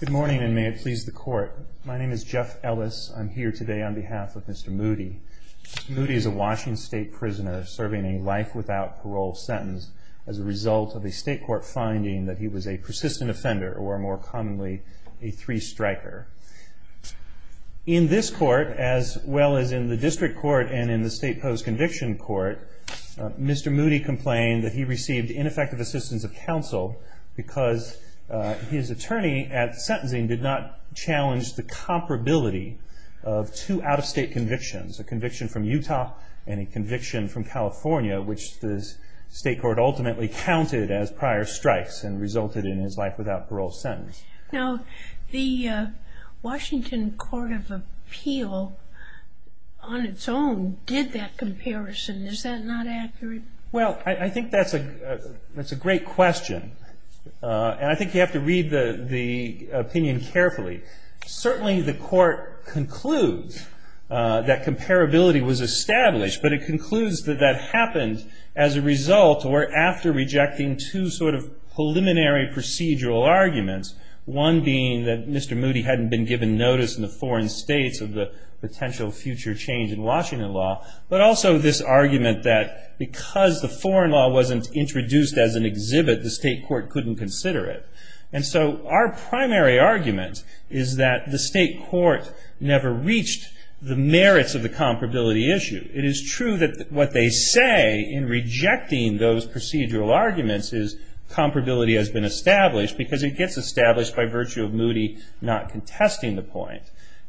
Good morning and may it please the court. My name is Jeff Ellis. I'm here today on behalf of Mr. Moody. Mr. Moody is a Washington State prisoner serving a life without parole sentence as a result of a state court finding that he was a persistent offender or more commonly a three-striker. In this court as well as in the district court and in the state post-conviction court, Mr. Moody complained that he received ineffective assistance of counsel because his attorney at sentencing did not challenge the comparability of two out-of-state convictions, a conviction from Utah and a conviction from California, which the state court ultimately counted as prior strikes and resulted in his life without parole sentence. Now the Washington Court of Appeal on its own did that comparison. Is that not accurate? Well, I think that's a great question. And I think you have to read the opinion carefully. Certainly the court concludes that comparability was established, but it concludes that that happened as a result or after rejecting two sort of preliminary procedural arguments, one being that Mr. Moody hadn't been given notice in the foreign states of the potential future change in Washington law, but also this argument that because the foreign law wasn't introduced as an exhibit, the state court couldn't consider it. And so our primary argument is that the state court never reached the merits of the comparability issue. It is true that what they say in rejecting those procedural arguments is comparability has been established because it gets established by virtue of Moody not contesting the point.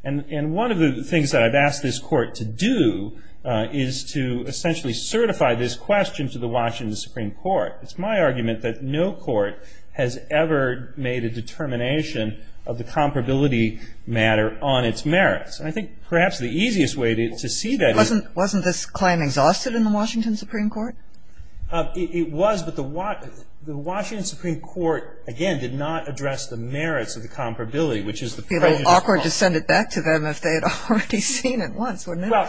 And one of the things that I've asked this court to do is to essentially certify this question to the Washington Supreme Court. It's my argument that no court has ever made a determination of the comparability matter on its merits. And I think perhaps the easiest way to see that is Wasn't this claim exhausted in the Washington Supreme Court? It was, but the Washington Supreme Court, again, did not address the merits of the comparability, which is the if they had already seen it once, wouldn't it? Well,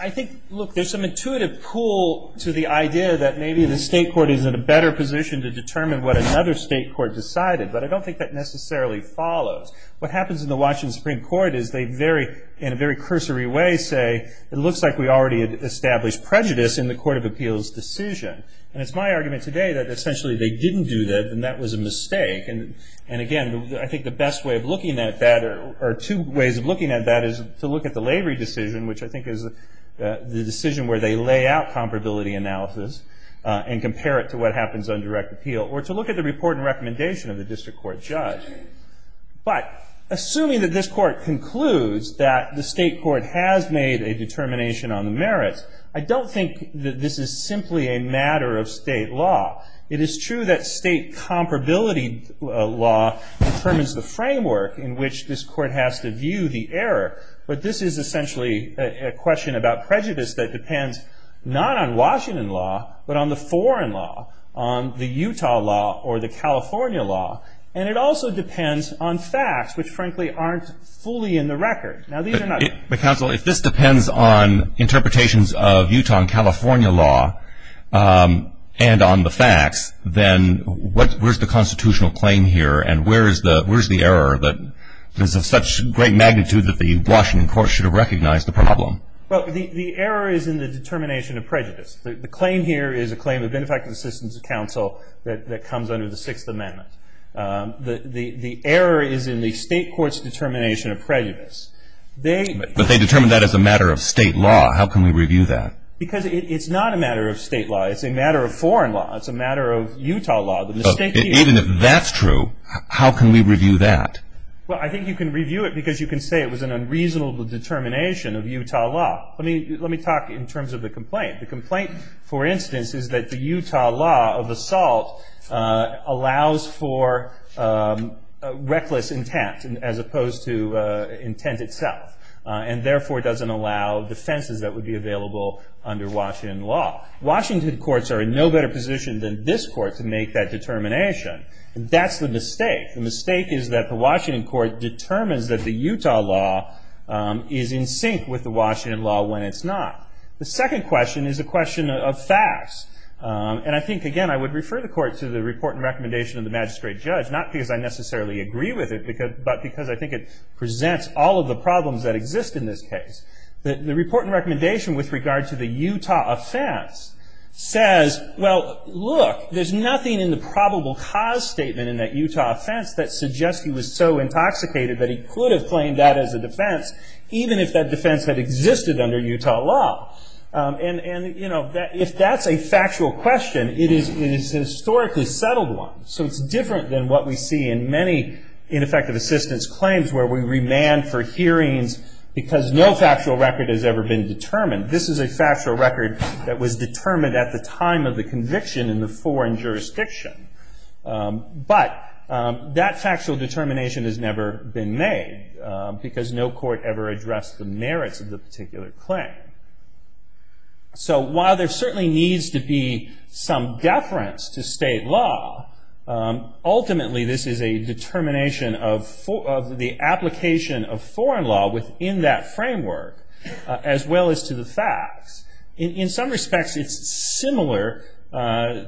I think, look, there's some intuitive pull to the idea that maybe the state court is in a better position to determine what another state court decided, but I don't think that necessarily follows. What happens in the Washington Supreme Court is they very, in a very cursory way, say, it looks like we already established prejudice in the court of appeals decision. And it's my argument today that essentially they didn't do that and that was a mistake. And again, I think the best way of looking at that, or two ways of looking at that, is to look at the Lavery decision, which I think is the decision where they lay out comparability analysis and compare it to what happens on direct appeal, or to look at the report and recommendation of the district court judge. But assuming that this court concludes that the state court has made a determination on the merits, I don't think that this is simply a matter of state law. It is true that state comparability law determines the framework in which this court has to view the error. But this is essentially a question about prejudice that depends not on Washington law, but on the foreign law, on the Utah law, or the California law. And it also depends on facts, which frankly aren't fully in the record. Now, these are not... But counsel, if this depends on interpretations of Utah and California law and on the facts, then where's the constitutional claim here and where's the error that is of such great magnitude that the Washington court should have recognized the problem? Well, the error is in the determination of prejudice. The claim here is a claim of benefactors assistance to counsel that comes under the Sixth Amendment. The error is in the state court's determination of prejudice. But they determined that as a matter of state law. How can we review that? Because it's not a matter of state law. It's a matter of foreign law. It's a matter of Utah law. Even if that's true, how can we review that? Well, I think you can review it because you can say it was an unreasonable determination of Utah law. Let me talk in terms of the complaint. The complaint, for instance, is that the Utah law of assault allows for reckless intent as opposed to intent itself, and therefore doesn't allow defenses that would be available under Washington law. Washington courts are in no better position than this court to make that determination. That's the mistake. The mistake is that the Washington court determines that the Utah law is in sync with the Washington law when it's not. The second question is a question of facts. And I think, again, I would refer the court to the report and recommendation of the magistrate judge, not because I necessarily agree with it, but because I think it presents all of the problems that exist in this case. The report and recommendation with regard to the Utah offense says, well, look, there's nothing in the probable cause statement in that Utah offense that suggests he was so intoxicated that he could have claimed that as a defense, even if that defense had existed under Utah law. And if that's a factual question, it is a historically settled one. So it's different than what we see in many ineffective assistance claims where we remand for hearings because no factual record has ever been determined. This is a factual record that was determined at the time of the conviction in the foreign jurisdiction. But that factual determination has never been made because no court ever addressed the merits of the particular claim. So while there certainly needs to be some deference to state law, ultimately this is a determination of the application of foreign law within that framework as well as to the facts. In some respects, it's similar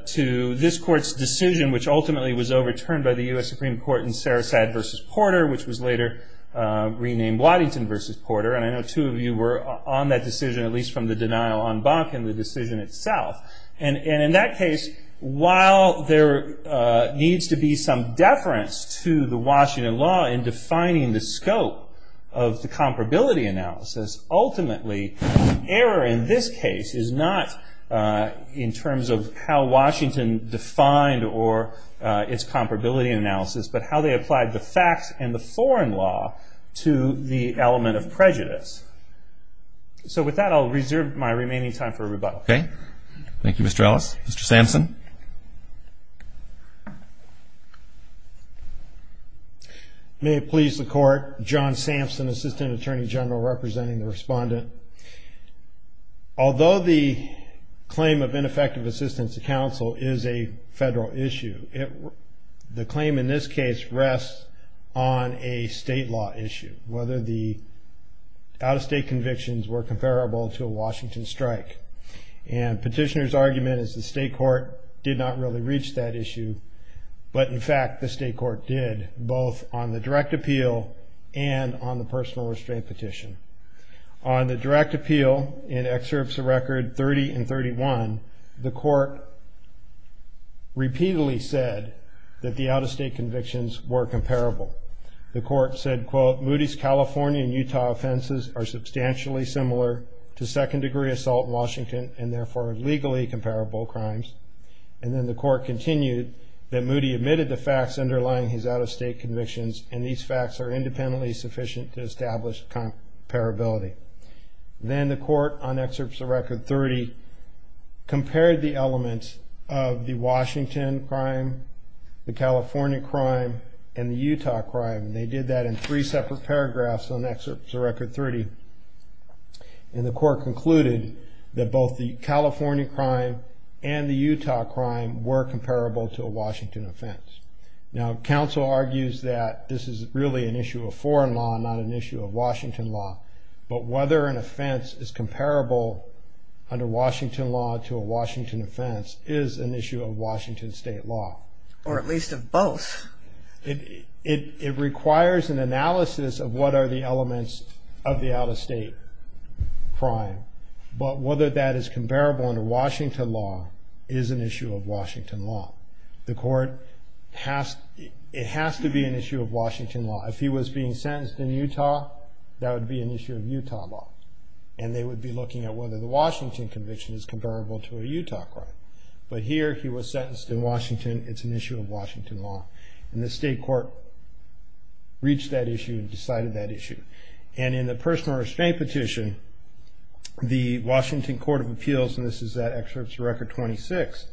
to this court's decision, which ultimately was overturned by the U.S. Supreme Court in Sarasate v. Porter, which was later renamed Waddington v. Porter. And I know two of you were on that decision, at least from the denial on Bach and the decision itself. And in that case, while there needs to be some deference to the Washington law in defining the scope of the comparability analysis, ultimately error in this case is not in terms of how Washington defined or its comparability analysis, but how they applied the facts and the foreign law to the element of prejudice. So with that, I'll reserve my remaining time for rebuttal. Okay. Mr. Sampson. May it please the Court. John Sampson, Assistant Attorney General, representing the respondent. Although the claim of ineffective assistance to counsel is a federal issue, the claim in this case rests on a state law issue, whether the out-of-state convictions were comparable to a Washington strike. And petitioner's argument is the state court did not really reach that issue. But in fact, the state court did, both on the direct appeal and on the personal restraint petition. On the direct appeal, in excerpts of record 30 and 31, the court repeatedly said that the out-of-state convictions were comparable. The court said, quote, Moody's California and Utah offenses are substantially similar to second-degree assault in Washington and therefore are legally comparable crimes. And then the court continued that Moody admitted the facts underlying his out-of-state convictions and these facts are independently sufficient to establish comparability. Then the court, on excerpts of record 30, compared the elements of the Washington crime, the California crime, and the Utah crime. And they did that in three separate paragraphs on excerpts of record 30. And the court concluded that both the California crime and the Utah crime were comparable to a Washington offense. Now, counsel argues that this is really an issue of foreign law, not an issue of Washington law. But whether an offense is comparable under Washington law to a Washington offense is an issue of Washington state law. Or at least of both. It requires an analysis of what are the elements of the out-of-state crime. But whether that is comparable under Washington law is an issue of Washington law. The court has, it has to be an issue of Washington law. If he was being sentenced in Utah, that would be an issue of Utah law. And they would be looking at whether the Washington conviction is comparable to a Utah crime. But here he was sentenced in Washington, it's an issue of Washington law. And the state court reached that issue and decided that issue. And in the personal restraint petition, the Washington Court of Appeals, and this is that excerpt of record 26,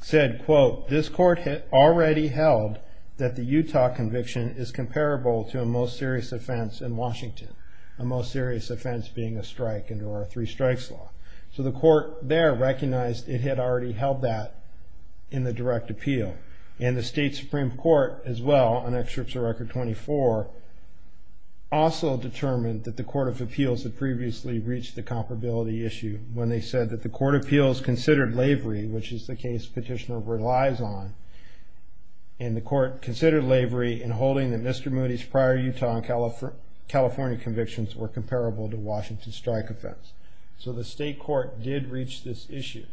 said, quote, this court had already held that the Utah conviction is comparable to a most serious offense in Washington. A most serious offense being a strike under our three strikes law. So the court there recognized it had already held that in the direct appeal. And the state Supreme Court, as well, on excerpt of record 24, also determined that the Court of Appeals had previously reached the comparability issue when they said that the Court of Appeals considered lavery, which is the case petitioner relies on. And the court considered lavery in holding that Mr. Moody's prior Utah and California convictions were comparable to Washington strike offense. So the state court did reach this issue.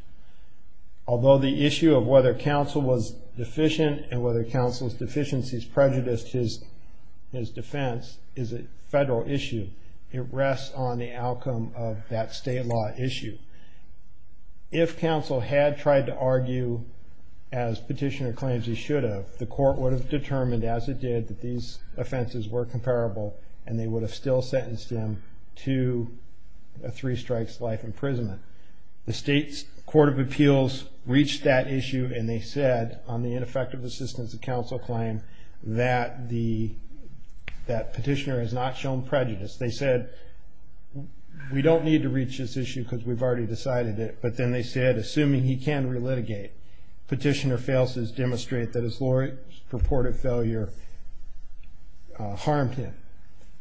Although the issue of whether counsel was deficient and whether counsel's deficiencies prejudiced his defense is a federal issue, it rests on the outcome of that state law issue. If counsel had tried to argue as petitioner claims he should have, the court would have determined as it did that these offenses were comparable and they would have still sentenced him to a three strikes life imprisonment. The state's Court of Appeals reached that issue and they said on the ineffective assistance of counsel claim that petitioner has not shown prejudice. They said, we don't need to reach this issue because we've already decided it. But then they said, assuming he can relitigate, petitioner fails to demonstrate that his lawyer's purported failure harmed him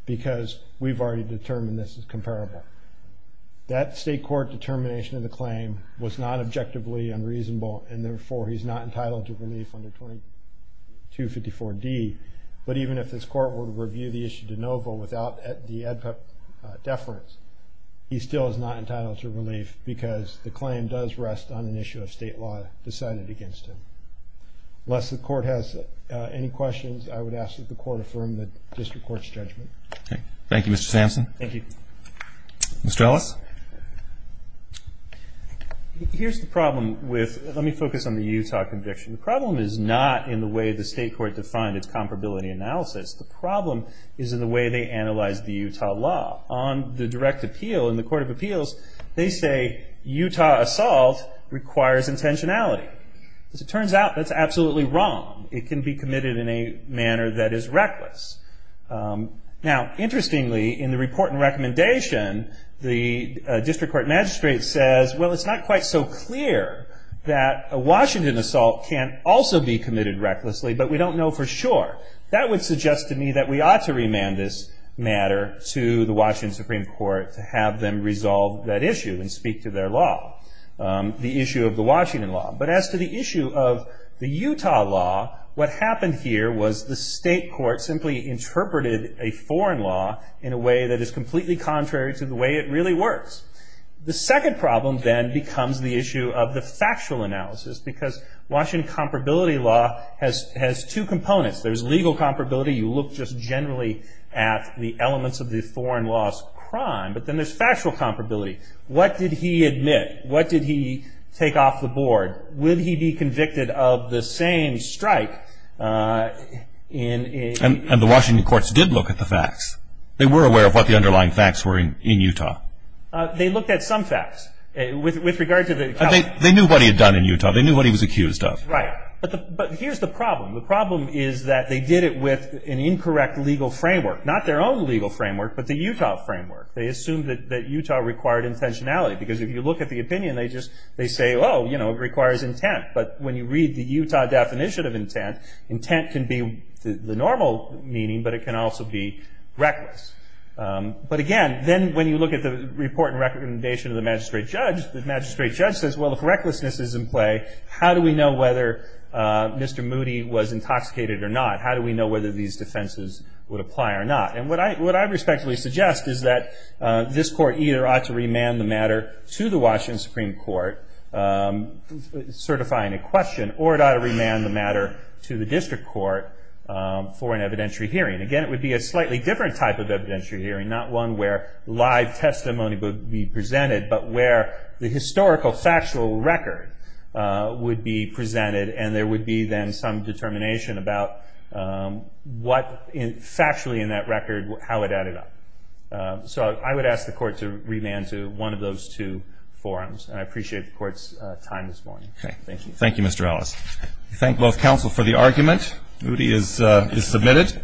because we've already determined this is comparable. That state court determination of the claim was not objectively unreasonable and therefore he's not entitled to relief under 2254D. But even if this court were to review the issue de novo without the ADPEP deference, he still is not entitled to relief because the claim does rest on an issue of state law decided against him. Unless the court has any questions, I would ask that the court affirm the district court's judgment. Thank you, Mr. Sampson. Thank you. Mr. Ellis? Here's the problem. Let me focus on the Utah conviction. The problem is not in the way the state court defined its comparability analysis. The problem is in the way they analyzed the Utah law. On the direct appeal in the Court of Appeals, they say Utah assault requires intentionality. As it turns out, that's absolutely wrong. It can be committed in a manner that is reckless. Now, interestingly, in the report and recommendation, the district court magistrate says, well, it's not quite so clear that a Washington assault can't also be committed recklessly, but we don't know for sure. That would suggest to me that we ought to remand this matter to the Washington Supreme Court to have them resolve that issue and speak to their law, the issue of the Washington law. But as to the issue of the Utah law, what happened here was the state court simply interpreted a foreign law in a way that is completely contrary to the way it really works. The second problem then becomes the issue of the factual analysis because Washington comparability law has two components. There's legal comparability. You look just generally at the elements of the foreign law's crime. But then there's factual comparability. What did he admit? What did he take off the board? Would he be convicted of the same strike in- And the Washington courts did look at the facts. They were aware of what the underlying facts were in Utah. They looked at some facts with regard to the- They knew what he had done in Utah. They knew what he was accused of. Right. But here's the problem. The problem is that they did it with an incorrect legal framework, not their own legal framework, but the Utah framework. They assumed that Utah required intentionality because if you look at the opinion, they say, oh, it requires intent. But when you read the Utah definition of intent, intent can be the normal meaning, but it can also be reckless. But again, then when you look at the report and recommendation of the magistrate judge, the magistrate judge says, well, if recklessness is in play, how do we know whether Mr. Moody was intoxicated or not? How do we know whether these defenses would apply or not? And what I respectfully suggest is that this court either ought to remand the matter to the Washington Supreme Court certifying a question, or it ought to remand the matter to the district court for an evidentiary hearing. Again, it would be a slightly different type of evidentiary hearing, not one where live testimony would be presented, but where the historical factual record would be presented and there would be then some determination about what factually in that record, how it added up. So I would ask the court to remand to one of those two forums, and I appreciate the court's time this morning. Thank you. Thank you, Mr. Ellis. Thank both counsel for the argument. Moody is submitted.